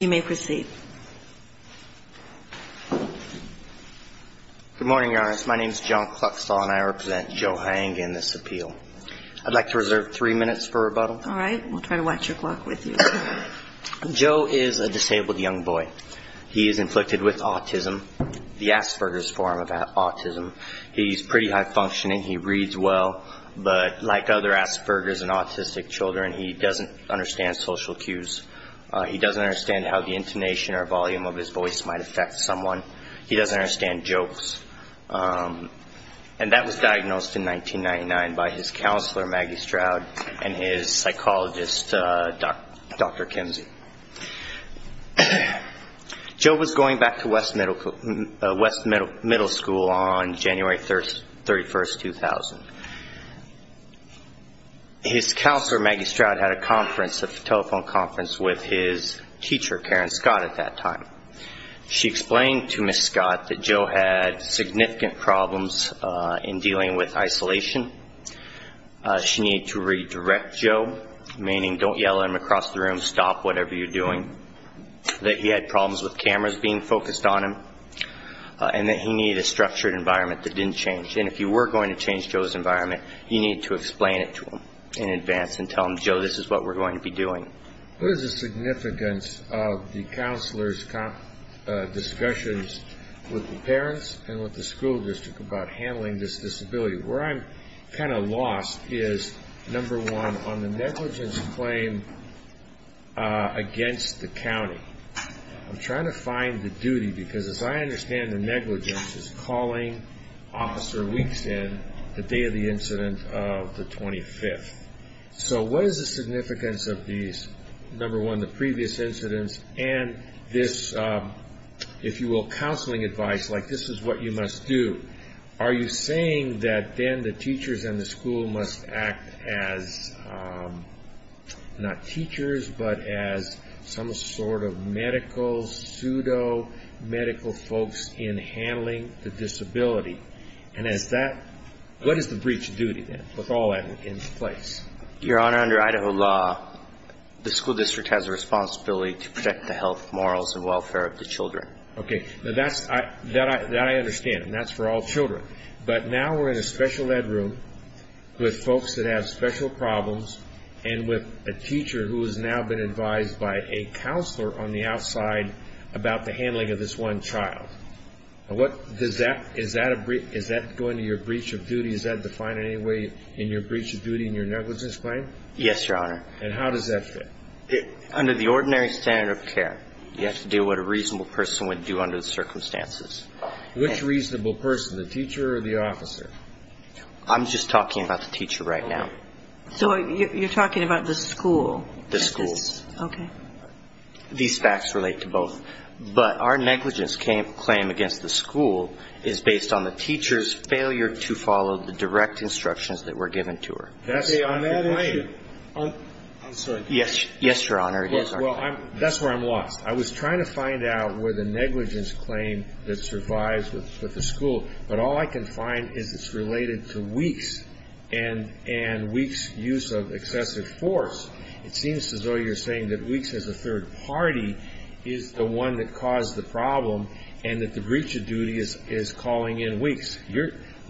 Good morning, Your Honor. My name is John Cluxtal, and I represent Joe Henga in this appeal. I'd like to reserve three minutes for rebuttal. All right. We'll try to watch your clock with you. Joe is a disabled young boy. He is inflicted with autism, the Asperger's form of autism. He's pretty high-functioning. He reads well, but like other Asperger's and autistic children, he doesn't understand social cues. He doesn't understand how the intonation or volume of his voice might affect someone. He doesn't understand jokes. And that was diagnosed in 1999 by his counselor, Maggie Stroud, and his psychologist, Dr. Kimsey. Joe was going back to West Middle School on January 31, 2000. His counselor, Maggie Stroud, had a conference, a telephone conference with his teacher, Karen Scott, at that time. She explained to Ms. Scott that Joe had significant problems in dealing with isolation. She needed to redirect Joe, meaning don't yell at him across the room, stop whatever you're doing, that he had problems with cameras being focused on him, and that he needed a structured environment that didn't change. And if you were going to change Joe's environment, you needed to explain it to him in advance and tell him, Joe, this is what we're going to be doing. What is the significance of the counselor's discussions with the parents and with the school district about handling this disability? Where I'm kind of lost is, number one, on the negligence claim against the county. I'm trying to find the duty, because as I understand the negligence is calling Officer Weeks in the day of the incident of the 25th. So what is the significance of these, number one, the previous incidents, and this, if you will, counseling advice, like this is what you must do. Are you saying that then the teachers in the school must act as not teachers, but as some sort of medical, pseudo-medical folks in handling the disability? And as that, what is the breach of duty then, with all that in place? Your Honor, under Idaho law, the school district has a responsibility to protect the health, morals, and welfare of the children. Okay, that I understand, and that's for all children. But now we're in a special ed room with folks that have special problems and with a teacher who has now been advised by a counselor on the outside about the handling of this one child. Is that going to your breach of duty? Is that defined in any way in your breach of duty in your negligence claim? Yes, Your Honor. And how does that fit? Under the ordinary standard of care, you have to do what a reasonable person would do under the circumstances. Which reasonable person, the teacher or the officer? I'm just talking about the teacher right now. So you're talking about the school? The school. Okay. These facts relate to both. But our negligence claim against the school is based on the teacher's failure to follow the direct instructions that were given to her. I'm sorry. Yes, Your Honor. Well, that's where I'm lost. I was trying to find out where the negligence claim that survives with the school, but all I can find is it's related to Weeks and Weeks' use of excessive force. It seems as though you're saying that Weeks as a third party is the one that caused the problem and that the breach of duty is calling in Weeks.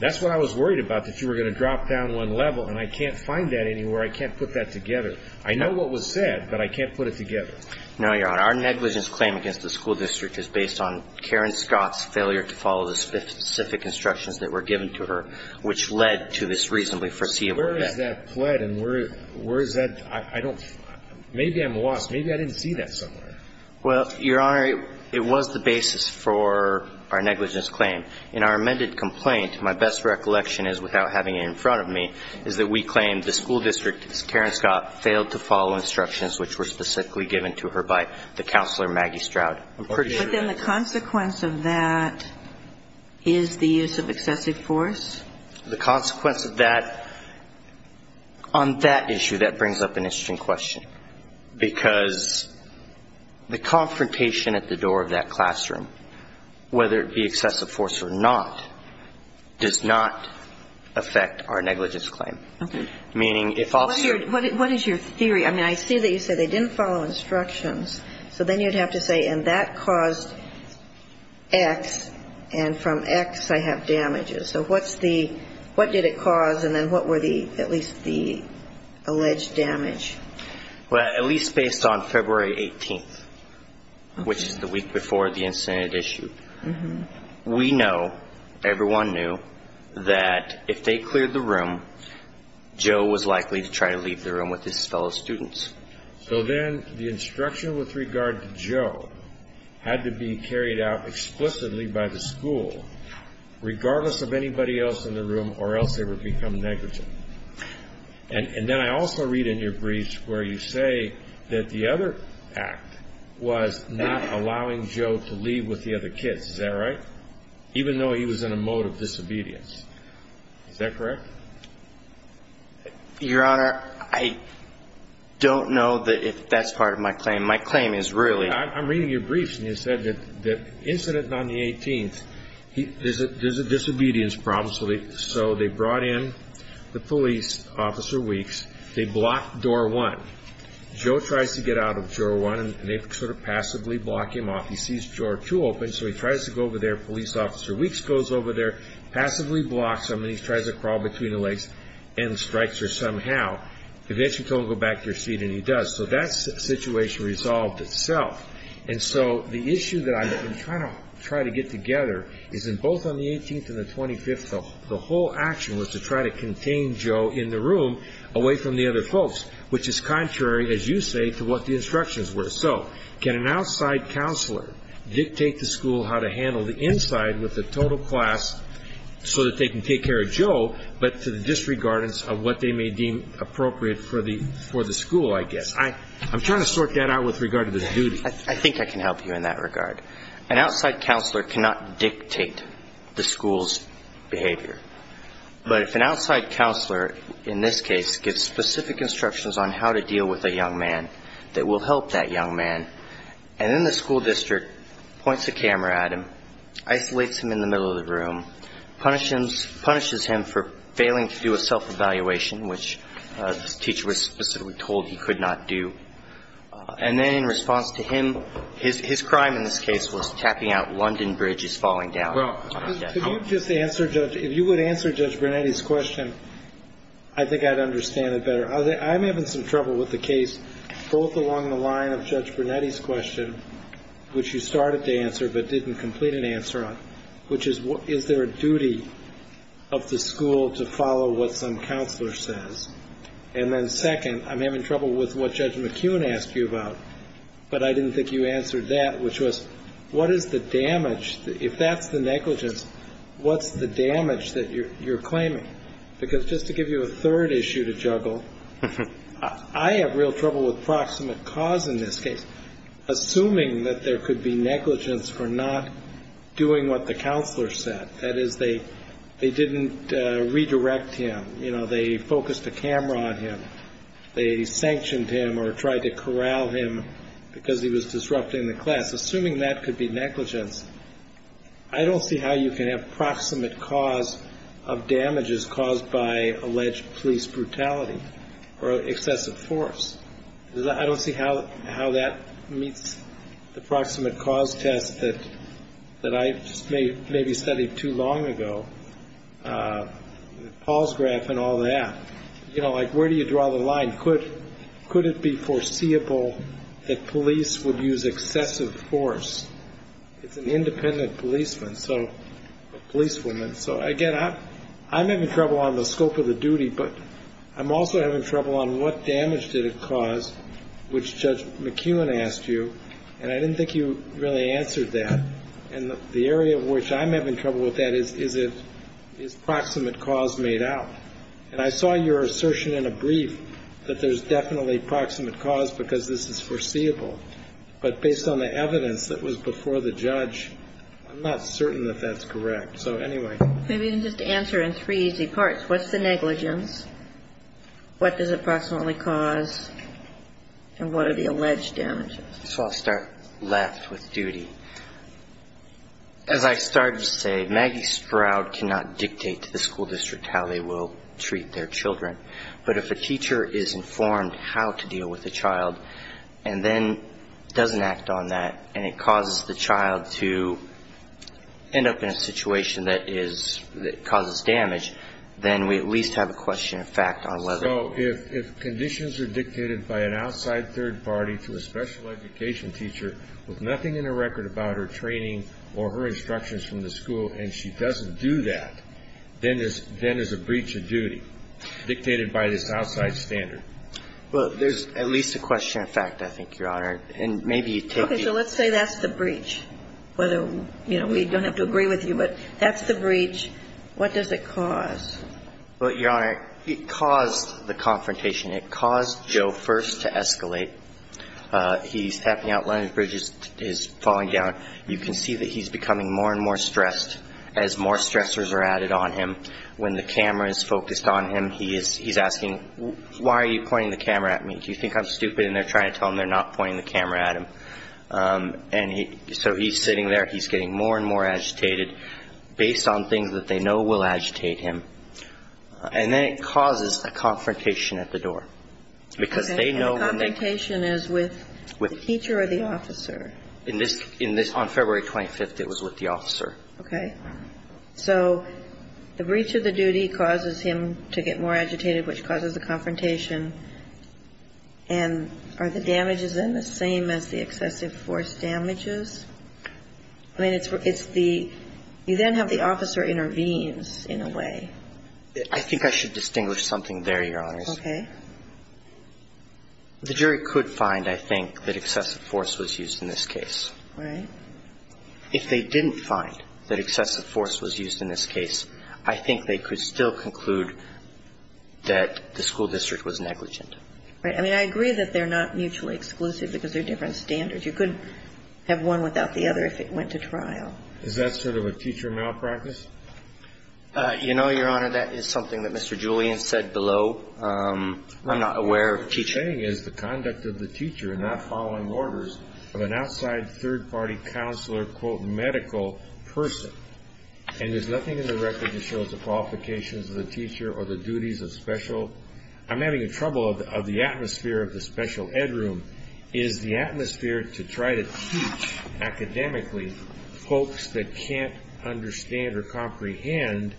That's what I was worried about, that you were going to drop down one level, and I can't find that anywhere. I can't put that together. I know what was said, but I can't put it together. No, Your Honor. Our negligence claim against the school district is based on Karen Scott's failure to follow the specific instructions that were given to her, which led to this reasonably foreseeable effect. Where is that pled? And where is that – I don't – maybe I'm lost. Maybe I didn't see that somewhere. Well, Your Honor, it was the basis for our negligence claim. In our amended complaint, my best recollection is, without having it in front of me, is that we claim the school district, Karen Scott, failed to follow instructions which were specifically given to her by the counselor, Maggie Stroud. I'm pretty sure that's true. But then the consequence of that is the use of excessive force? The consequence of that – on that issue, that brings up an interesting question, because the confrontation at the door of that classroom, whether it be excessive force or not, does not affect our negligence claim. Okay. Meaning if I'll – What is your theory? I mean, I see that you said they didn't follow instructions. So then you'd have to say, and that caused X, and from X I have damages. So what's the – what did it cause, and then what were the – at least the alleged damage? Well, at least based on February 18th, which is the week before the incident issue, we know, everyone knew, that if they cleared the room, Joe was likely to try to leave the room with his fellow students. So then the instruction with regard to Joe had to be carried out explicitly by the school, regardless of anybody else in the room, or else they would become negligent. And then I also read in your briefs where you say that the other act was not allowing Joe to leave with the other kids. Is that right? Even though he was in a mode of disobedience. Is that correct? Your Honor, I don't know that that's part of my claim. My claim is really – I'm reading your briefs, and you said that the incident on the 18th, there's a disobedience problem. So they brought in the police officer Weeks. They blocked door one. Joe tries to get out of door one, and they sort of passively block him off. He sees door two open, so he tries to go over there. Police officer Weeks goes over there, passively blocks him, and he tries to crawl between the legs and strikes her somehow. Eventually told him to go back to your seat, and he does. So that situation resolved itself. And so the issue that I'm trying to get together is that both on the 18th and the 25th, the whole action was to try to contain Joe in the room away from the other folks, which is contrary, as you say, to what the instructions were. So can an outside counselor dictate to school how to handle the inside with the total class so that they can take care of Joe, but to the disregardance of what they may deem appropriate for the school, I guess. I'm trying to sort that out with regard to the duty. I think I can help you in that regard. An outside counselor cannot dictate the school's behavior. But if an outside counselor, in this case, gives specific instructions on how to deal with a young man that will help that young man, and then the school district points a camera at him, isolates him in the middle of the room, punishes him for failing to do a self-evaluation, which the teacher was specifically told he could not do. And then in response to him, his crime in this case was tapping out London Bridge as falling down. Could you just answer, Judge, if you would answer Judge Brunetti's question, I think I'd understand it better. I'm having some trouble with the case both along the line of Judge Brunetti's question, which you started to answer but didn't complete an answer on, which is, is there a duty of the school to follow what some counselor says? And then second, I'm having trouble with what Judge McKeown asked you about, but I didn't think you answered that, which was, what is the damage? If that's the negligence, what's the damage that you're claiming? Because just to give you a third issue to juggle, I have real trouble with proximate cause in this case. Assuming that there could be negligence for not doing what the counselor said, that is, they didn't redirect him, you know, they focused the camera on him, they sanctioned him or tried to corral him because he was disrupting the class, assuming that could be negligence, I don't see how you can have proximate cause of damages caused by alleged police brutality or excessive force. I don't see how that meets the proximate cause test that I just maybe studied too long ago, Paul's graph and all that. You know, like, where do you draw the line? Could it be foreseeable that police would use excessive force? It's an independent policeman, a policewoman. So again, I'm having trouble on the scope of the duty, but I'm also having trouble on what damage did it cause, which Judge McKeown asked you, and I didn't think you really answered that. And the area in which I'm having trouble with that is, is it, is proximate cause made out? And I saw your assertion in a brief that there's definitely proximate cause because this is foreseeable. But based on the evidence that was before the judge, I'm not certain that that's correct. So anyway. Maybe you can just answer in three easy parts. What's the negligence? What does a proximate cause? And what are the alleged damages? So I'll start left with duty. As I started to say, Maggie Sproud cannot dictate to the school district how they will treat their children. But if a teacher is informed how to deal with a child and then doesn't act on that and it causes the child to end up in a situation that is, that causes damage, then we at least have a question of fact on whether. So if conditions are dictated by an outside third party to a special education teacher with nothing in her record about her training or her instructions from the school and she doesn't do that, then there's a breach of duty dictated by this outside standard. Well, there's at least a question of fact, I think, Your Honor. Okay. So let's say that's the breach, whether, you know, we don't have to agree with you, but that's the breach. What does it cause? Well, Your Honor, it caused the confrontation. It caused Joe first to escalate. He's tapping out. One of his bridges is falling down. You can see that he's becoming more and more stressed as more stressors are added on him. When the camera is focused on him, he's asking, why are you pointing the camera at me? Do you think I'm stupid? And they're trying to tell him they're not pointing the camera at him. And so he's sitting there. He's getting more and more agitated based on things that they know will agitate him. And then it causes a confrontation at the door because they know when they go. Okay. And the confrontation is with the teacher or the officer? On February 25th, it was with the officer. Okay. So the breach of the duty causes him to get more agitated, which causes a confrontation. And are the damages then the same as the excessive force damages? I mean, it's the you then have the officer intervenes in a way. I think I should distinguish something there, Your Honors. Okay. The jury could find, I think, that excessive force was used in this case. Right. If they didn't find that excessive force was used in this case, I think they could still conclude that the school district was negligent. Right. I mean, I agree that they're not mutually exclusive because they're different standards. You couldn't have one without the other if it went to trial. Is that sort of a teacher malpractice? You know, Your Honor, that is something that Mr. Julian said below. I'm not aware of teaching. What he's saying is the conduct of the teacher in not following orders of an outside third-party counselor, quote, medical person. And there's nothing in the record that shows the qualifications of the teacher or the duties of special. I'm having trouble of the atmosphere of the special ed room is the atmosphere to try to teach academically folks that can't understand or comprehend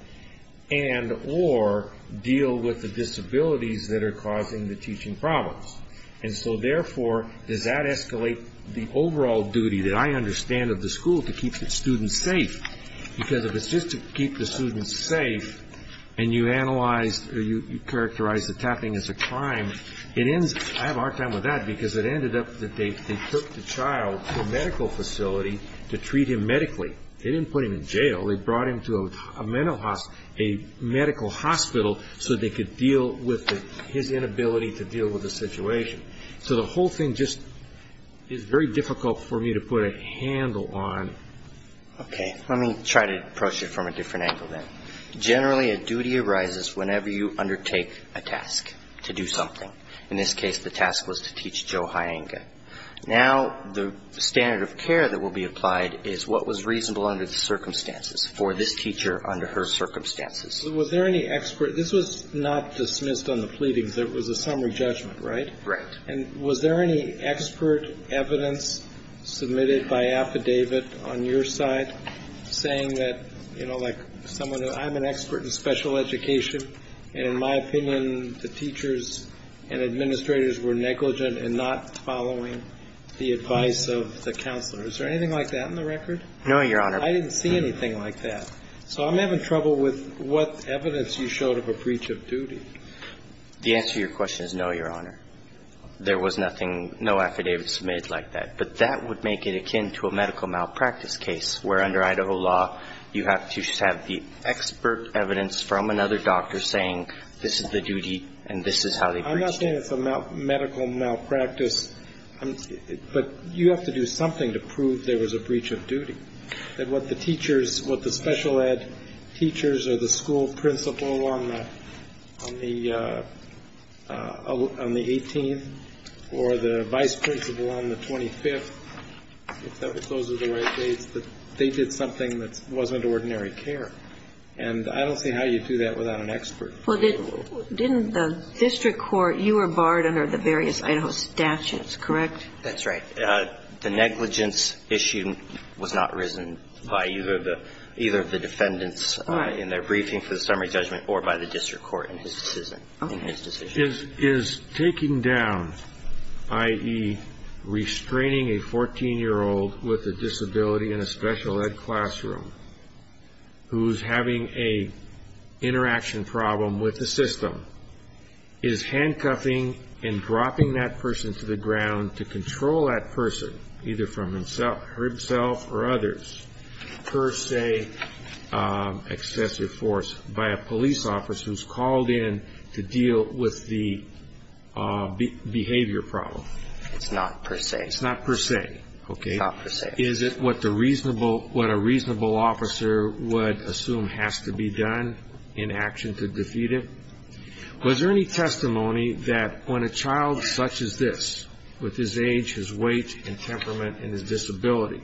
and or deal with the disabilities that are causing the teaching problems. And so, therefore, does that escalate the overall duty that I understand of the school to keep the students safe? Because if it's just to keep the students safe and you analyze or you characterize the tapping as a crime, it ends up, I have a hard time with that because it ended up that they took the child to a medical facility to treat him medically. They didn't put him in jail. They brought him to a mental hospital, a medical hospital, so they could deal with his inability to deal with the situation. So the whole thing just is very difficult for me to put a handle on. Okay. Let me try to approach it from a different angle then. Generally, a duty arises whenever you undertake a task to do something. In this case, the task was to teach Joe Hyangka. Now, the standard of care that will be applied is what was reasonable under the circumstances for this teacher under her circumstances. Was there any expert? This was not dismissed on the pleadings. It was a summary judgment, right? Right. And was there any expert evidence submitted by affidavit on your side saying that, you know, like someone, I'm an expert in special education, and in my opinion, the teachers and administrators were negligent in not following the advice of the counselor? Is there anything like that in the record? No, Your Honor. I didn't see anything like that. So I'm having trouble with what evidence you showed of a breach of duty. The answer to your question is no, Your Honor. There was nothing, no affidavits made like that. But that would make it akin to a medical malpractice case where under Idaho law, you have to have the expert evidence from another doctor saying this is the duty and this is how they breached it. I'm not saying it's a medical malpractice. But you have to do something to prove there was a breach of duty, that what the teachers, what the special ed teachers or the school principal on the 18th or the vice principal on the 25th, if those are the right dates, that they did something that wasn't ordinary care. And I don't see how you do that without an expert. Well, didn't the district court, you were barred under the various Idaho statutes, correct? That's right. The negligence issue was not risen by either of the defendants in their briefing for the summary judgment or by the district court in his decision. Is taking down, i.e., restraining a 14-year-old with a disability in a special ed classroom who's having an interaction problem with the system, is handcuffing and dropping that person to the ground to control that person, either for himself or others, per se, excessive force, by a police officer who's called in to deal with the behavior problem? It's not per se. It's not per se, okay. It's not per se. Is it what a reasonable officer would assume has to be done in action to defeat him? Was there any testimony that when a child such as this, with his age, his weight and temperament and his disability,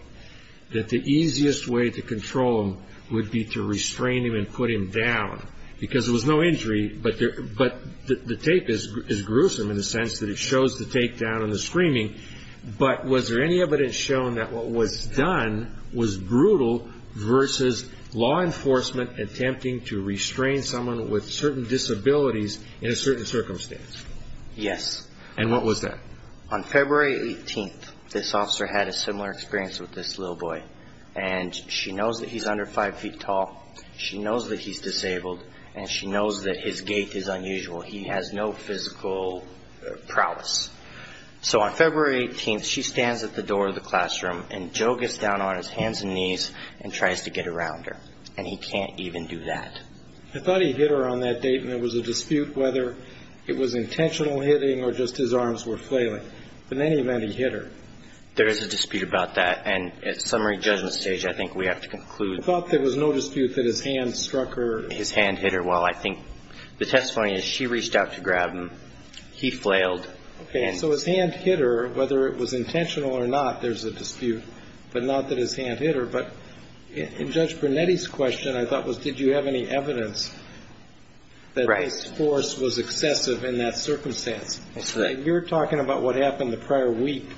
that the easiest way to control him would be to restrain him and put him down? Because there was no injury, but the tape is gruesome in the sense that it shows the tape down and the screaming, but was there any evidence shown that what was done was brutal versus law enforcement attempting to restrain someone with certain disabilities in a certain circumstance? Yes. And what was that? On February 18th, this officer had a similar experience with this little boy, and she knows that he's under 5 feet tall. She knows that he's disabled, and she knows that his gait is unusual. He has no physical prowess. So on February 18th, she stands at the door of the classroom, and Joe gets down on his hands and knees and tries to get around her, and he can't even do that. I thought he hit her on that date, and there was a dispute whether it was intentional hitting or just his arms were flailing, but in any event, he hit her. There is a dispute about that, and at summary judgment stage, I think we have to conclude. I thought there was no dispute that his hand struck her. His hand hit her. Well, I think the testimony is she reached out to grab him. He flailed. Okay. So his hand hit her. Whether it was intentional or not, there's a dispute, but not that his hand hit her. I'm sorry, but in Judge Brunetti's question, I thought was, did you have any evidence that this force was excessive in that circumstance? You're talking about what happened the prior week,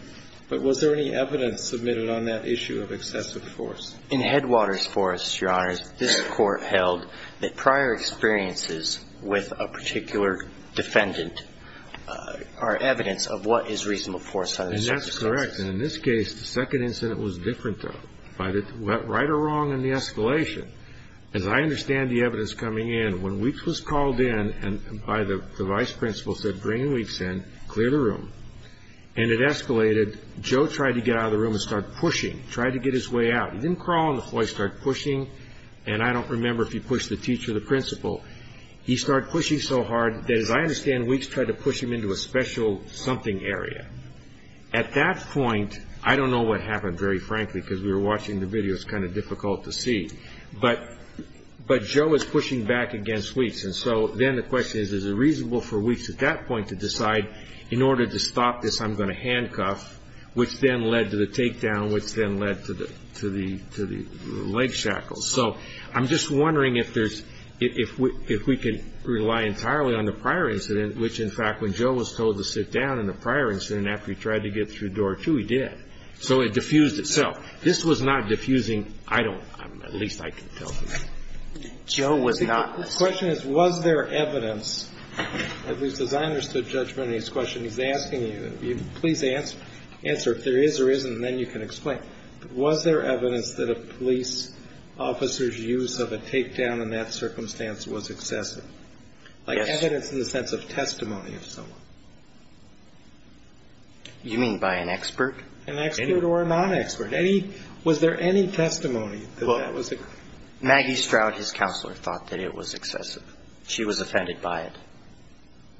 but was there any evidence submitted on that issue of excessive force? In Headwaters' force, Your Honors, this Court held that prior experiences with a particular defendant are evidence of what is reasonable force. And that's correct. And in this case, the second incident was different, though, right or wrong in the escalation. As I understand the evidence coming in, when Weeks was called in by the vice principal, said, Bring in Weeks in. Clear the room. And it escalated. Joe tried to get out of the room and start pushing, tried to get his way out. He didn't crawl on the floor. He started pushing so hard that, as I understand, Weeks tried to push him into a special something area. At that point, I don't know what happened, very frankly, because we were watching the video. It's kind of difficult to see. But Joe was pushing back against Weeks. And so then the question is, is it reasonable for Weeks at that point to decide, in order to stop this, I'm going to handcuff, which then led to the takedown, which then led to the leg shackles. So I'm just wondering if there's, if we can rely entirely on the prior incident, which, in fact, when Joe was told to sit down in the prior incident after he tried to get through door two, he did. So it diffused itself. This was not diffusing. I don't, at least I can tell you. Joe was not. The question is, was there evidence, at least as I understood judgment in his question, he's asking you, please answer if there is or isn't, and then you can explain. Was there evidence that a police officer's use of a takedown in that circumstance was excessive? Yes. Like evidence in the sense of testimony of someone? You mean by an expert? An expert or a non-expert. Any, was there any testimony that that was excessive? Maggie Stroud, his counselor, thought that it was excessive. She was offended by it.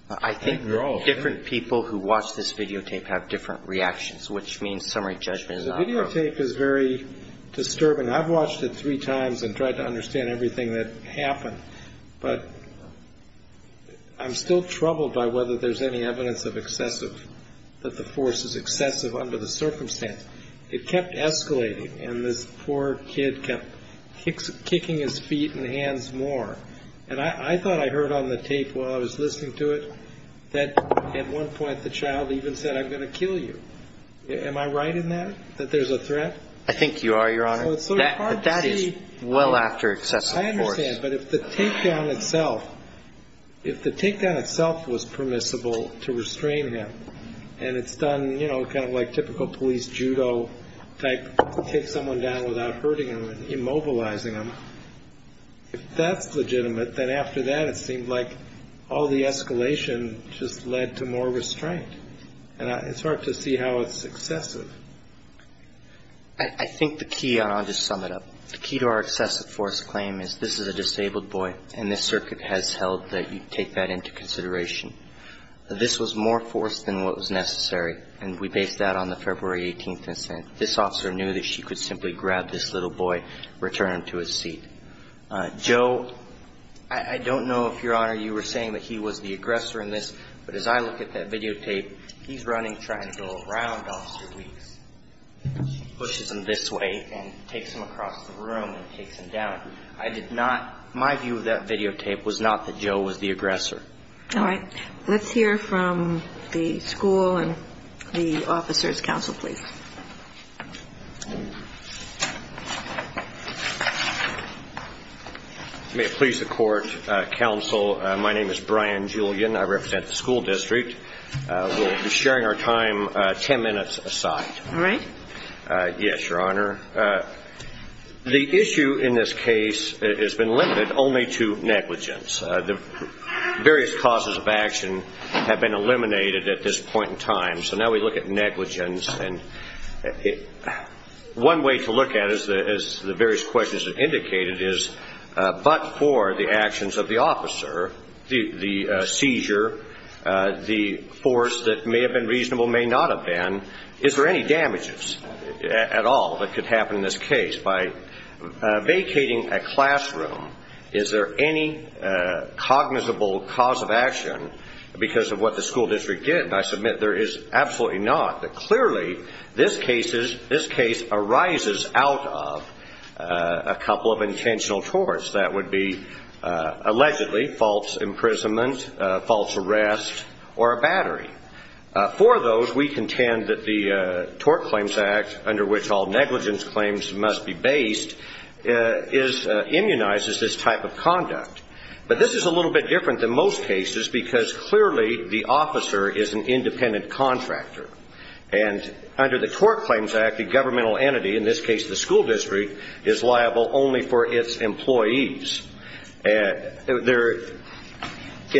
I think different people who watch this videotape have different reactions, which means summary judgment is not appropriate. The videotape is very disturbing. I've watched it three times and tried to understand everything that happened. But I'm still troubled by whether there's any evidence of excessive, that the force is excessive under the circumstance. It kept escalating, and this poor kid kept kicking his feet and hands more. And I thought I heard on the tape while I was listening to it that at one point the child even said, I'm going to kill you. Am I right in that, that there's a threat? I think you are, Your Honor. That is well after excessive force. I understand, but if the takedown itself, if the takedown itself was permissible to restrain him, and it's done, you know, kind of like typical police judo type, take someone down without hurting them and immobilizing them, if that's legitimate, then after that it seemed like all the escalation just led to more restraint. And it's hard to see how it's excessive. I think the key, and I'll just sum it up, the key to our excessive force claim is this is a disabled boy, and this circuit has held that you take that into consideration. This was more force than what was necessary, and we based that on the February 18th incent. This officer knew that she could simply grab this little boy, return him to his seat. Joe, I don't know if, Your Honor, you were saying that he was the aggressor in this, but as I look at that videotape, he's running, trying to go around Officer Weeks. She pushes him this way and takes him across the room and takes him down. I did not, my view of that videotape was not that Joe was the aggressor. All right. Let's hear from the school and the officer's counsel, please. May it please the Court, Counsel, my name is Brian Julian. I represent the school district. We'll be sharing our time ten minutes aside. All right. Yes, Your Honor. The issue in this case has been limited only to negligence. The various causes of action have been eliminated at this point in time, so now we look at negligence. One way to look at it, as the various questions have indicated, is but for the actions of the officer, the seizure, the force that may have been reasonable, may not have been, is there any damages at all that could happen in this case? By vacating a classroom, is there any cognizable cause of action because of what the school district did? I submit there is absolutely not. Clearly, this case arises out of a couple of intentional torts. That would be, allegedly, false imprisonment, false arrest, or a battery. For those, we contend that the Tort Claims Act, under which all negligence claims must be based, immunizes this type of conduct. But this is a little bit different than most cases because, clearly, the officer is an independent contractor. And under the Tort Claims Act, the governmental entity, in this case the school district, is liable only for its employees. In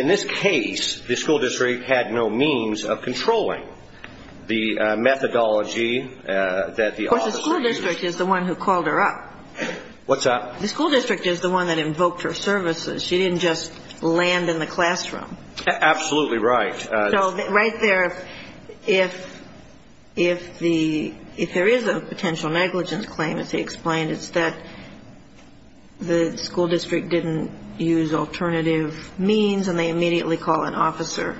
this case, the school district had no means of controlling the methodology that the officer used. Of course, the school district is the one who called her up. What's up? The school district is the one that invoked her services. She didn't just land in the classroom. Absolutely right. So right there, if there is a potential negligence claim, as he explained, it's that the school district didn't use alternative means and they immediately call an officer.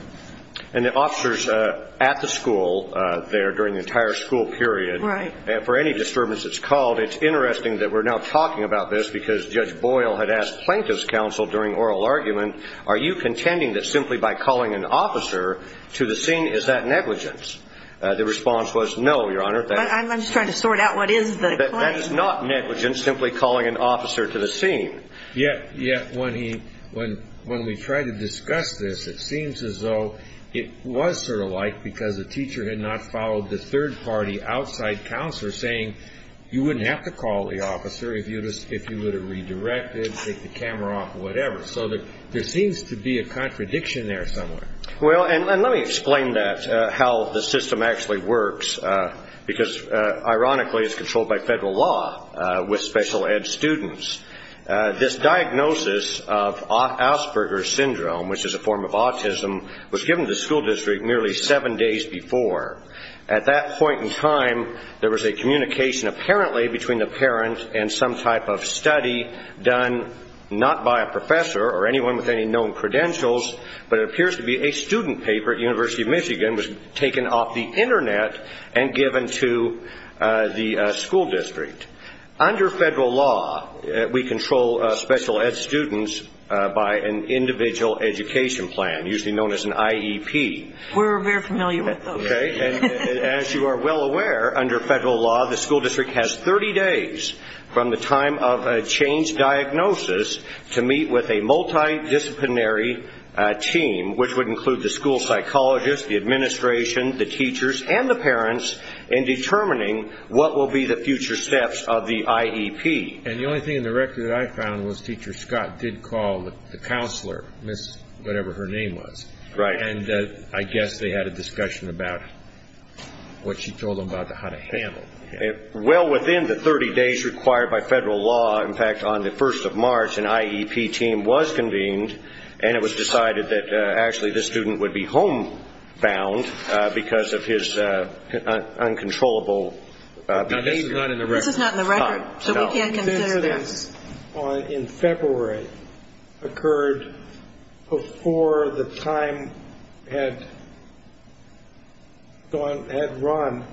And the officers at the school there during the entire school period, for any disturbance that's called, it's interesting that we're now talking about this because Judge Boyle had asked plaintiff's counsel during oral argument, are you contending that simply by calling an officer to the scene, is that negligence? The response was no, Your Honor. I'm just trying to sort out what is the claim. That's not negligence, simply calling an officer to the scene. Yeah. When we tried to discuss this, it seems as though it was sort of like because the teacher had not followed the third party outside counselor saying you wouldn't have to call the officer if you would have redirected, take the camera off, whatever. So there seems to be a contradiction there somewhere. Well, and let me explain that, how the system actually works, because ironically it's controlled by federal law with special ed students. This diagnosis of Asperger's syndrome, which is a form of autism, was given to the school district nearly seven days before. At that point in time, there was a communication apparently between the parent and some type of study done not by a professor or anyone with any known credentials, but it appears to be a student paper at University of Michigan was taken off the Internet and given to the school district. Under federal law, we control special ed students by an individual education plan, usually known as an IEP. We're very familiar with those. Okay. As you are well aware, under federal law, the school district has 30 days from the time of a changed diagnosis to meet with a multidisciplinary team, which would include the school psychologist, the administration, the teachers, and the parents in determining what will be the future steps of the IEP. And the only thing in the record that I found was Teacher Scott did call the counselor, whatever her name was. Right. And I guess they had a discussion about what she told them about how to handle it. Well within the 30 days required by federal law, in fact, on the 1st of March, an IEP team was convened, and it was decided that actually this student would be homebound because of his uncontrollable behavior. Now, this is not in the record. This is not in the record, so we can't consider this. This in February occurred before the time had run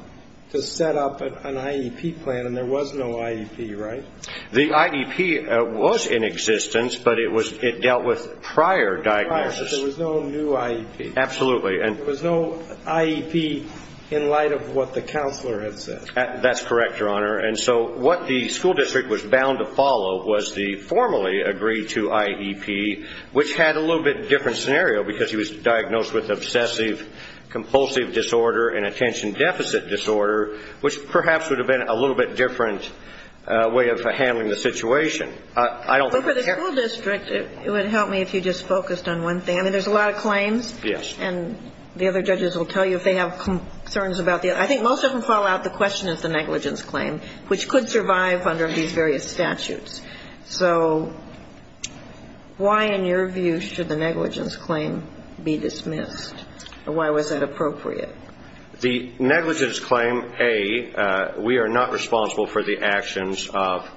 to set up an IEP plan, and there was no IEP, right? The IEP was in existence, but it dealt with prior diagnosis. Prior, but there was no new IEP. Absolutely. There was no IEP in light of what the counselor had said. That's correct, Your Honor. And so what the school district was bound to follow was the formally agreed-to IEP, which had a little bit different scenario because he was diagnosed with obsessive-compulsive disorder and attention deficit disorder, which perhaps would have been a little bit different way of handling the situation. I don't think that's correct. Well, for the school district, it would help me if you just focused on one thing. I mean, there's a lot of claims. Yes. And the other judges will tell you if they have concerns about the other. I think most of them follow out the question of the negligence claim, which could survive under these various statutes. So why, in your view, should the negligence claim be dismissed? Why was that appropriate? The negligence claim, A, we are not responsible for the actions of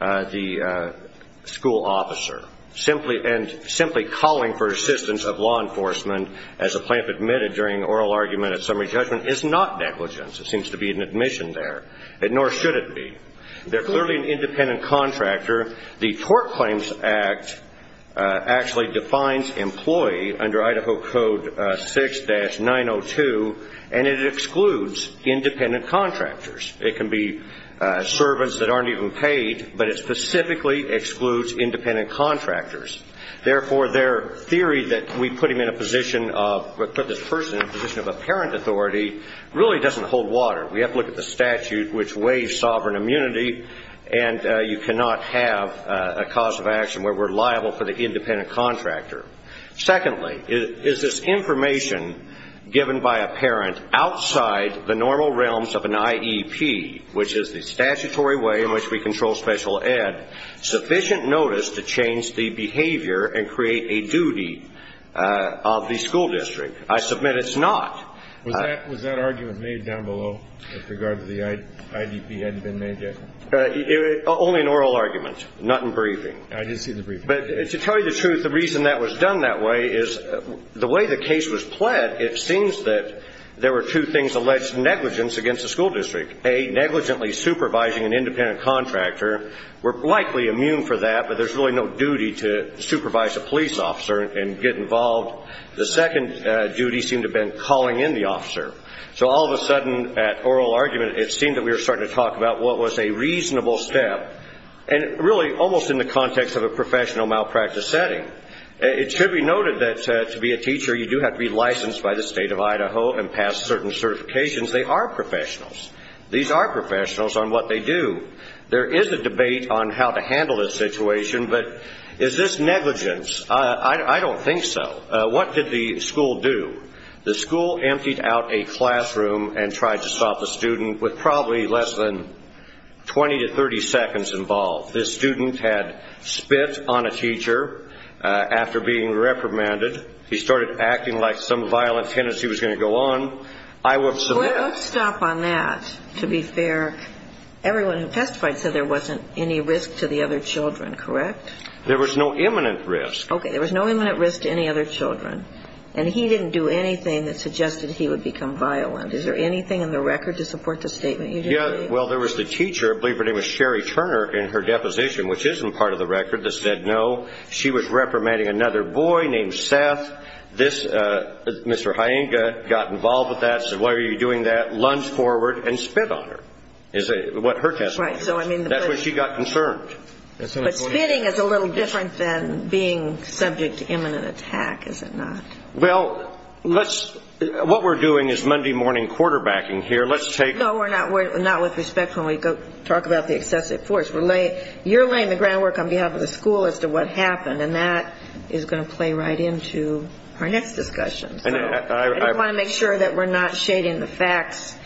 the school officer. And simply calling for assistance of law enforcement, as the plaintiff admitted during oral argument at summary judgment, is not negligence. It seems to be an admission there, nor should it be. They're clearly an independent contractor. The Tort Claims Act actually defines employee under Idaho Code 6-902, and it excludes independent contractors. It can be servants that aren't even paid, but it specifically excludes independent contractors. Therefore, their theory that we put this person in a position of apparent authority really doesn't hold water. We have to look at the statute, which waives sovereign immunity, and you cannot have a cause of action where we're liable for the independent contractor. Secondly, is this information given by a parent outside the normal realms of an IEP, which is the statutory way in which we control special ed, sufficient notice to change the behavior and create a duty of the school district? I submit it's not. Was that argument made down below with regard to the IDP hadn't been made yet? Only in oral argument, not in briefing. I didn't see the briefing. But to tell you the truth, the reason that was done that way is the way the case was pled, it seems that there were two things alleged negligence against the school district. A, negligently supervising an independent contractor. We're likely immune for that, but there's really no duty to supervise a police officer and get involved. The second duty seemed to have been calling in the officer. So all of a sudden, at oral argument, it seemed that we were starting to talk about what was a reasonable step, and really almost in the context of a professional malpractice setting. It should be noted that to be a teacher, you do have to be licensed by the state of Idaho and pass certain certifications. They are professionals. These are professionals on what they do. There is a debate on how to handle this situation, but is this negligence? I don't think so. What did the school do? The school emptied out a classroom and tried to stop a student with probably less than 20 to 30 seconds involved. This student had spit on a teacher after being reprimanded. He started acting like some violent tendency was going to go on. I would submit. Let's stop on that, to be fair. Everyone who testified said there wasn't any risk to the other children, correct? There was no imminent risk. Okay, there was no imminent risk to any other children. And he didn't do anything that suggested he would become violent. Is there anything in the record to support the statement you just gave? Yeah, well, there was the teacher, I believe her name was Sherry Turner, in her deposition, which isn't part of the record, that said, no, she was reprimanding another boy named Seth. This, Mr. Hyenga, got involved with that, said, why are you doing that? Lunged forward and spit on her, is what her testimony says. That's where she got concerned. But spitting is a little different than being subject to imminent attack, is it not? Well, what we're doing is Monday morning quarterbacking here. No, we're not with respect when we talk about the excessive force. You're laying the groundwork on behalf of the school as to what happened, and that is going to play right into our next discussion. I want to make sure that we're not shading the facts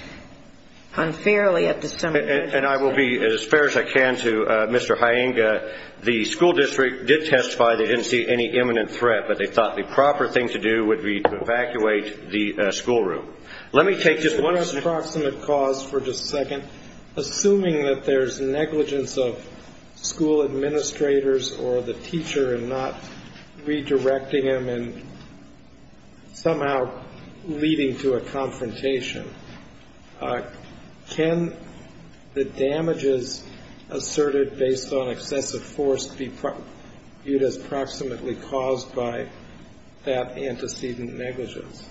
unfairly at this time. And I will be as fair as I can to Mr. Hyenga. The school district did testify they didn't see any imminent threat, but they thought the proper thing to do would be to evacuate the schoolroom. Let me take just one second. Approximate cause for just a second. Assuming that there's negligence of school administrators or the teacher in not redirecting them and somehow leading to a confrontation, can the damages asserted based on excessive force be viewed as approximately caused by that antecedent negligence?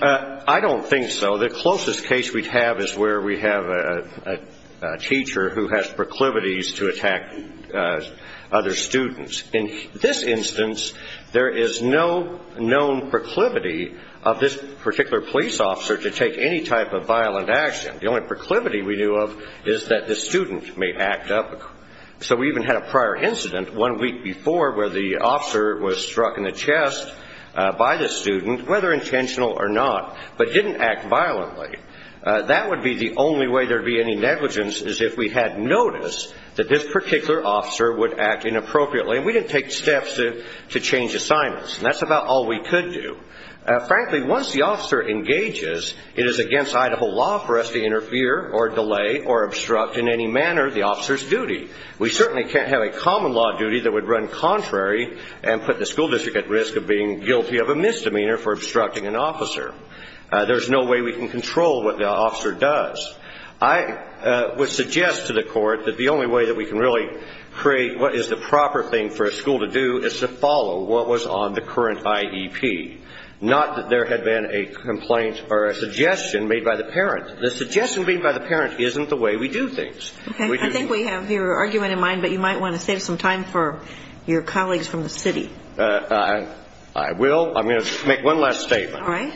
I don't think so. The closest case we'd have is where we have a teacher who has proclivities to attack other students. In this instance, there is no known proclivity of this particular police officer to take any type of violent action. The only proclivity we knew of is that the student may act up. So we even had a prior incident one week before where the officer was struck in the chest by the student, whether intentional or not, but didn't act violently. That would be the only way there would be any negligence, is if we had noticed that this particular officer would act inappropriately. We didn't take steps to change assignments, and that's about all we could do. Frankly, once the officer engages, it is against Idaho law for us to interfere or delay or obstruct in any manner the officer's duty. We certainly can't have a common law duty that would run contrary and put the school district at risk of being guilty of a misdemeanor for obstructing an officer. There's no way we can control what the officer does. I would suggest to the court that the only way that we can really create what is the proper thing for a school to do is to follow what was on the current IEP, not that there had been a complaint or a suggestion made by the parent. The suggestion made by the parent isn't the way we do things. Okay. I think we have your argument in mind, but you might want to save some time for your colleagues from the city. I will. I'm going to make one last statement. All right.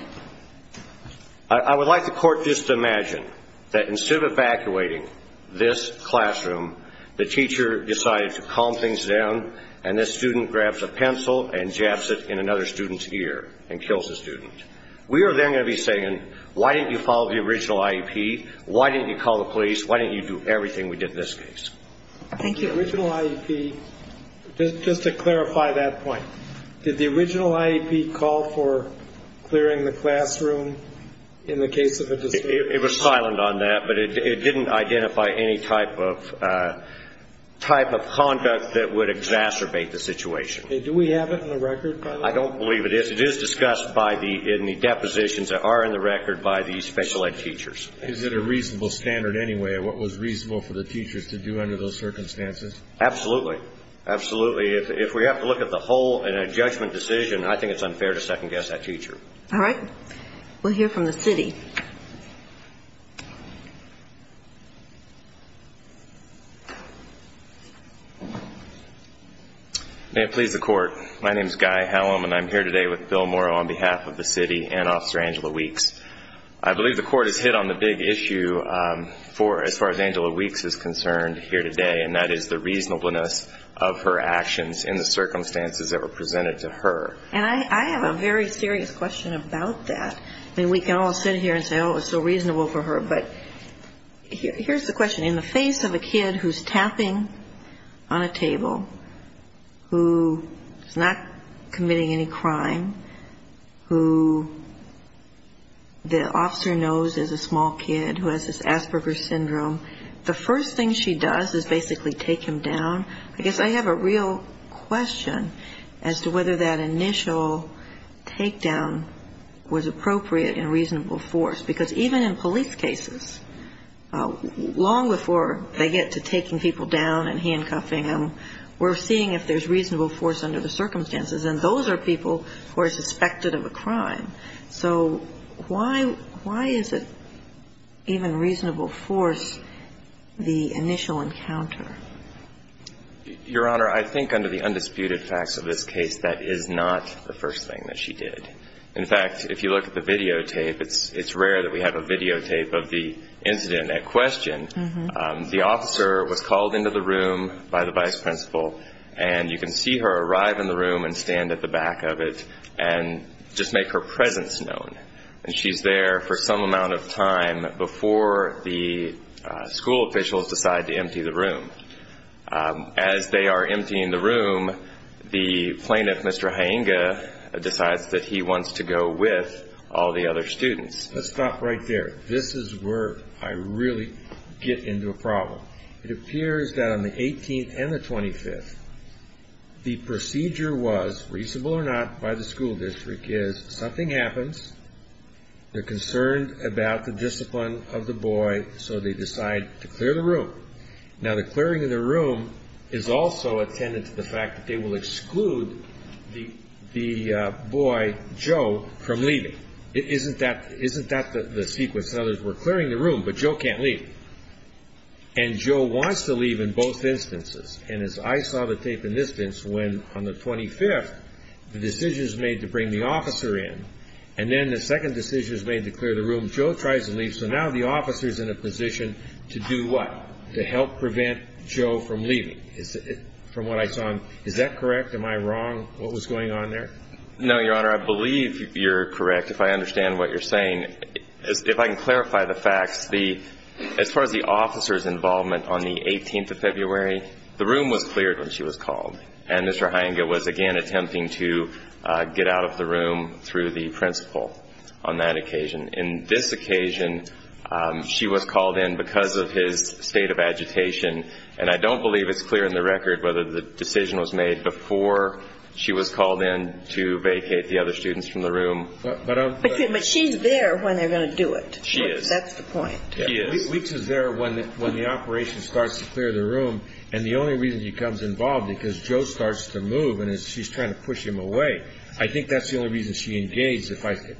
I would like the court just to imagine that instead of evacuating this classroom, the teacher decided to calm things down, and this student grabs a pencil and jabs it in another student's ear and kills the student. We are then going to be saying, why didn't you follow the original IEP? Why didn't you call the police? Why didn't you do everything we did in this case? Thank you. The original IEP, just to clarify that point, did the original IEP call for clearing the classroom in the case of a dispute? It was silent on that, but it didn't identify any type of conduct that would exacerbate the situation. Okay. Do we have it in the record by the way? I don't believe it is. It is discussed in the depositions that are in the record by the special ed teachers. Is it a reasonable standard anyway of what was reasonable for the teachers to do under those circumstances? Absolutely. Absolutely. If we have to look at the whole in a judgment decision, I think it's unfair to second-guess that teacher. All right. We'll hear from the city. May it please the court. My name is Guy Hallam, and I'm here today with Bill Morrow on behalf of the city and Officer Angela Weeks. I believe the court has hit on the big issue as far as Angela Weeks is concerned here today, and that is the reasonableness of her actions in the circumstances that were presented to her. And I have a very serious question about that. I mean, we can all sit here and say, oh, it was so reasonable for her. But here's the question. In the face of a kid who's tapping on a table, who is not committing any crime, who the officer knows is a small kid who has this Asperger's syndrome, the first thing she does is basically take him down. I guess I have a real question as to whether that initial takedown was appropriate and reasonable force, because even in police cases, long before they get to taking people down and handcuffing them, we're seeing if there's reasonable force under the circumstances, and those are people who are suspected of a crime. So why is it even reasonable force, the initial encounter? Your Honor, I think under the undisputed facts of this case, that is not the first thing that she did. In fact, if you look at the videotape, it's rare that we have a videotape of the incident at question. The officer was called into the room by the vice principal, and you can see her arrive in the room and stand at the back of it and just make her presence known. And she's there for some amount of time before the school officials decide to empty the room. As they are emptying the room, the plaintiff, Mr. Hyinga, decides that he wants to go with all the other students. Let's stop right there. This is where I really get into a problem. It appears that on the 18th and the 25th, the procedure was, reasonable or not, by the school district, is something happens, they're concerned about the discipline of the boy, so they decide to clear the room. Now, the clearing of the room is also attendant to the fact that they will exclude the boy, Joe, from leaving. Isn't that the sequence? In other words, we're clearing the room, but Joe can't leave. And Joe wants to leave in both instances. And as I saw the tape in this instance, when on the 25th, the decision is made to bring the officer in, and then the second decision is made to clear the room, Joe tries to leave, so now the officer is in a position to do what? To help prevent Joe from leaving. From what I saw, is that correct? Am I wrong? What was going on there? No, Your Honor, I believe you're correct, if I understand what you're saying. If I can clarify the facts, as far as the officer's involvement on the 18th of February, the room was cleared when she was called. And Mr. Hyinga was, again, attempting to get out of the room through the principal on that occasion. On this occasion, she was called in because of his state of agitation, and I don't believe it's clear in the record whether the decision was made before she was called in to vacate the other students from the room. But she's there when they're going to do it. She is. That's the point. Leeks is there when the operation starts to clear the room, and the only reason he becomes involved is because Joe starts to move and she's trying to push him away. I think that's the only reason she engaged.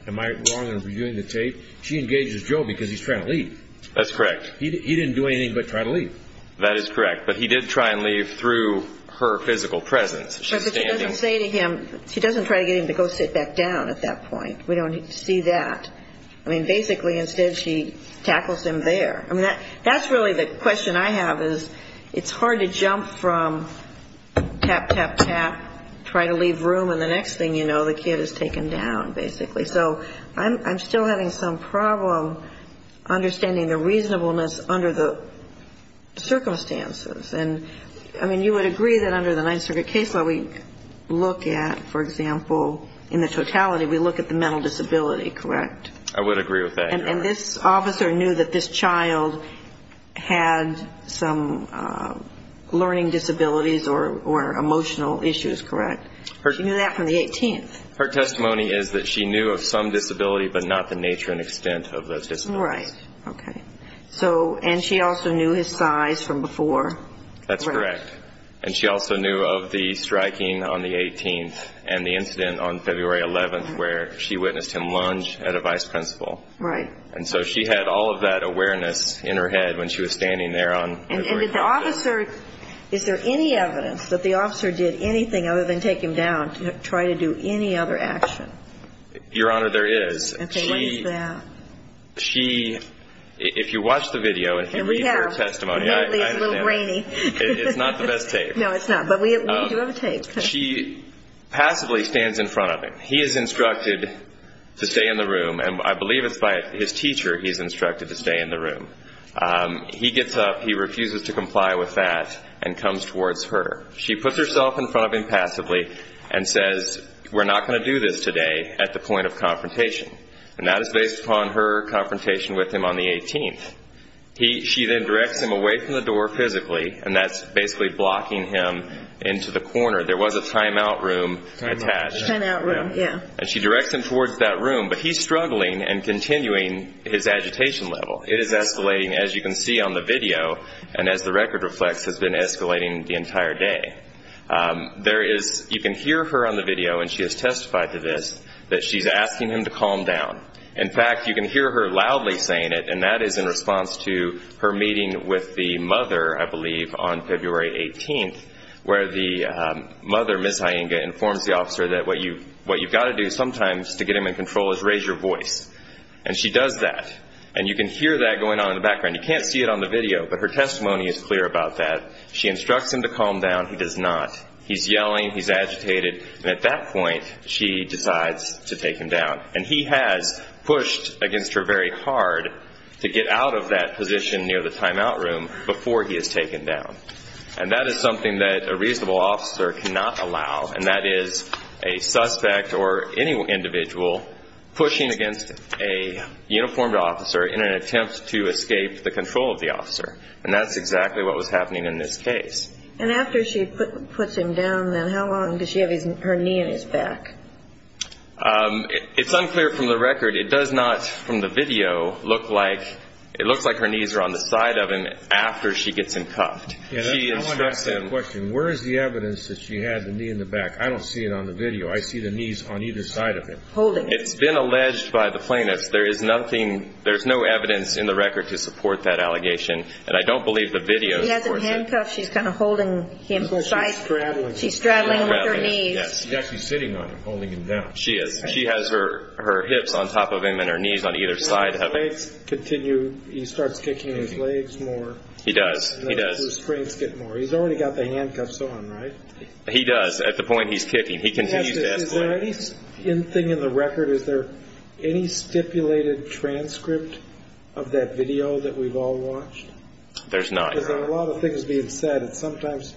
Am I wrong in reviewing the tape? She engages Joe because he's trying to leave. That's correct. He didn't do anything but try to leave. That is correct. But he did try and leave through her physical presence. But she doesn't say to him, she doesn't try to get him to go sit back down at that point. We don't see that. I mean, basically, instead she tackles him there. I mean, that's really the question I have is it's hard to jump from tap, tap, tap, try to leave room, and the next thing you know the kid is taken down, basically. So I'm still having some problem understanding the reasonableness under the circumstances. And, I mean, you would agree that under the Ninth Circuit case law we look at, for example, in the totality, we look at the mental disability, correct? I would agree with that, Your Honor. And this officer knew that this child had some learning disabilities or emotional issues, correct? She knew that from the 18th. Her testimony is that she knew of some disability but not the nature and extent of those disabilities. Right, okay. And she also knew his size from before. That's correct. And she also knew of the striking on the 18th and the incident on February 11th where she witnessed him lunge at a vice principal. Right. And so she had all of that awareness in her head when she was standing there on February 12th. And did the officer, is there any evidence that the officer did anything other than take him down to try to do any other action? Your Honor, there is. And say what is that? She, if you watch the video and if you read her testimony. And we have. Lately it's a little rainy. It's not the best tape. No, it's not. But we do have a tape. She passively stands in front of him. He is instructed to stay in the room, and I believe it's by his teacher he's instructed to stay in the room. He gets up, he refuses to comply with that, and comes towards her. She puts herself in front of him passively and says, we're not going to do this today at the point of confrontation. And that is based upon her confrontation with him on the 18th. She then directs him away from the door physically, and that's basically blocking him into the corner. There was a timeout room attached. Timeout room, yeah. And she directs him towards that room, but he's struggling and continuing his agitation level. It is escalating, as you can see on the video, and as the record reflects, has been escalating the entire day. There is, you can hear her on the video, and she has testified to this, that she's asking him to calm down. In fact, you can hear her loudly saying it, and that is in response to her meeting with the mother, I believe, on February 18th, where the mother, Ms. Hyenga, informs the officer that what you've got to do sometimes to get him in control is raise your voice. And she does that, and you can hear that going on in the background. You can't see it on the video, but her testimony is clear about that. She instructs him to calm down. He does not. He's yelling, he's agitated, and at that point, she decides to take him down. And he has pushed against her very hard to get out of that position near the timeout room before he is taken down. And that is something that a reasonable officer cannot allow, and that is a suspect or any individual pushing against a uniformed officer in an attempt to escape the control of the officer. And that's exactly what was happening in this case. And after she puts him down, then how long does she have her knee in his back? It's unclear from the record. It does not, from the video, look like her knees are on the side of him after she gets him cuffed. I want to ask you a question. Where is the evidence that she had the knee in the back? I don't see it on the video. I see the knees on either side of him. It's been alleged by the plaintiffs. There is no evidence in the record to support that allegation, and I don't believe the video supports it. She has him handcuffed. She's kind of holding him. She's straddling him. She's straddling him with her knees. She's actually sitting on him, holding him down. She is. She has her hips on top of him and her knees on either side of him. His legs continue. He starts kicking his legs more. He does. He does. And those restraints get more. He's already got the handcuffs on, right? He does at the point he's kicking. He continues to escalate. Is there anything in the record, is there any stipulated transcript of that video that we've all watched? There's not. Because there are a lot of things being said. It's sometimes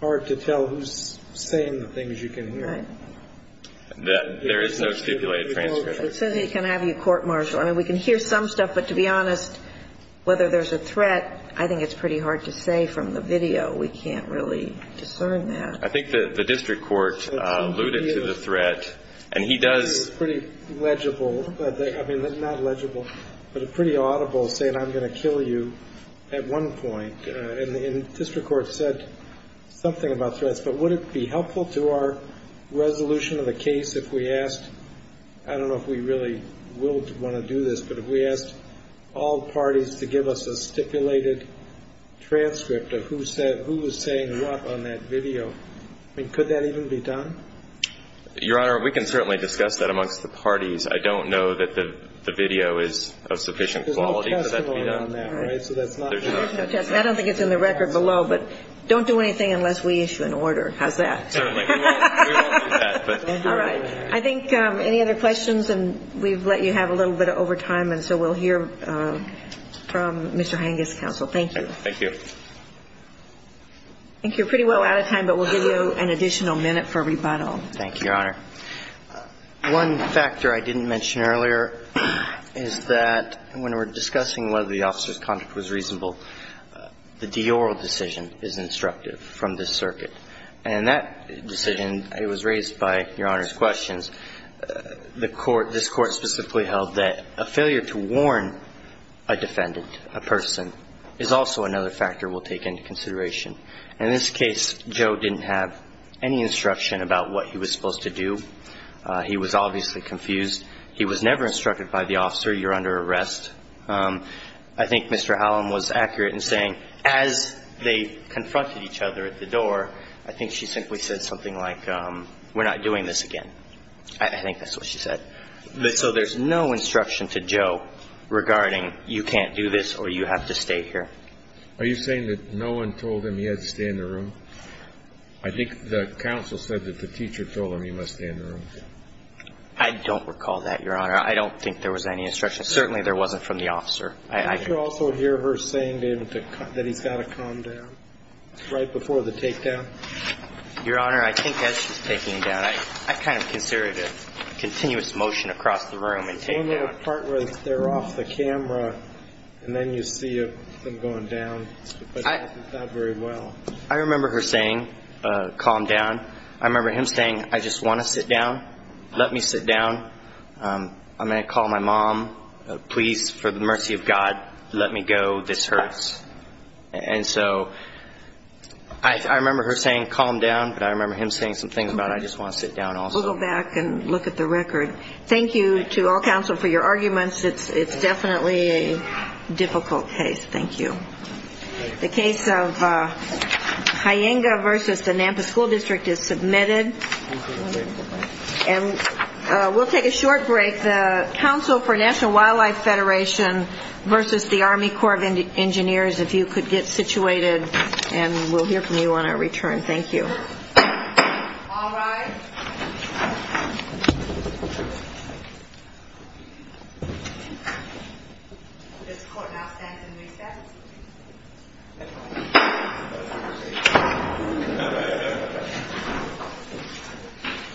hard to tell who's saying the things you can hear. Right. There is no stipulated transcript. It says it can have you court-martialed. I mean, we can hear some stuff, but to be honest, whether there's a threat, I think it's pretty hard to say from the video. We can't really discern that. I think the district court alluded to the threat, and he does. It's pretty legible. I mean, not legible, but pretty audible, saying I'm going to kill you at one point. And the district court said something about threats. But would it be helpful to our resolution of the case if we asked, I don't know if we really will want to do this, but if we asked all parties to give us a stipulated transcript of who was saying what on that video? I mean, could that even be done? Your Honor, we can certainly discuss that amongst the parties. I don't know that the video is of sufficient quality for that to be done. There's no testimony on that, right? There's no testimony. I don't think it's in the record below, but don't do anything unless we issue an order. How's that? Certainly. We won't do that. All right. I think any other questions? And we've let you have a little bit over time, and so we'll hear from Mr. Hengist, counsel. Thank you. Thank you. I think you're pretty well out of time, but we'll give you an additional minute for rebuttal. Thank you, Your Honor. One factor I didn't mention earlier is that when we're discussing whether the officer's conduct was reasonable, the de oral decision is instructive from this circuit. And that decision, it was raised by Your Honor's questions. This Court specifically held that a failure to warn a defendant, a person, is also another factor we'll take into consideration. In this case, Joe didn't have any instruction about what he was supposed to do. He was obviously confused. He was never instructed by the officer, you're under arrest. I think Mr. Hallam was accurate in saying as they confronted each other at the door, I think she simply said something like, we're not doing this again. I think that's what she said. So there's no instruction to Joe regarding you can't do this or you have to stay here. Are you saying that no one told him he had to stay in the room? I think the counsel said that the teacher told him he must stay in the room. I don't recall that, Your Honor. I don't think there was any instruction. Certainly there wasn't from the officer. Did you also hear her saying to him that he's got to calm down right before the takedown? Your Honor, I think that's just taking him down. I kind of considered a continuous motion across the room and takedown. There may have been a part where they're off the camera and then you see them going down, but it wasn't that very well. I remember her saying, calm down. I remember him saying, I just want to sit down. Let me sit down. I'm going to call my mom. Please, for the mercy of God, let me go. This hurts. And so I remember her saying, calm down, but I remember him saying some things about I just want to sit down also. We'll go back and look at the record. Thank you to all counsel for your arguments. It's definitely a difficult case. Thank you. The case of Hyenga v. The Nampa School District is submitted. We'll take a short break. The Council for National Wildlife Federation v. The Army Corps of Engineers, if you could get situated and we'll hear from you on our return. Thank you. All rise. This court now stands in recess.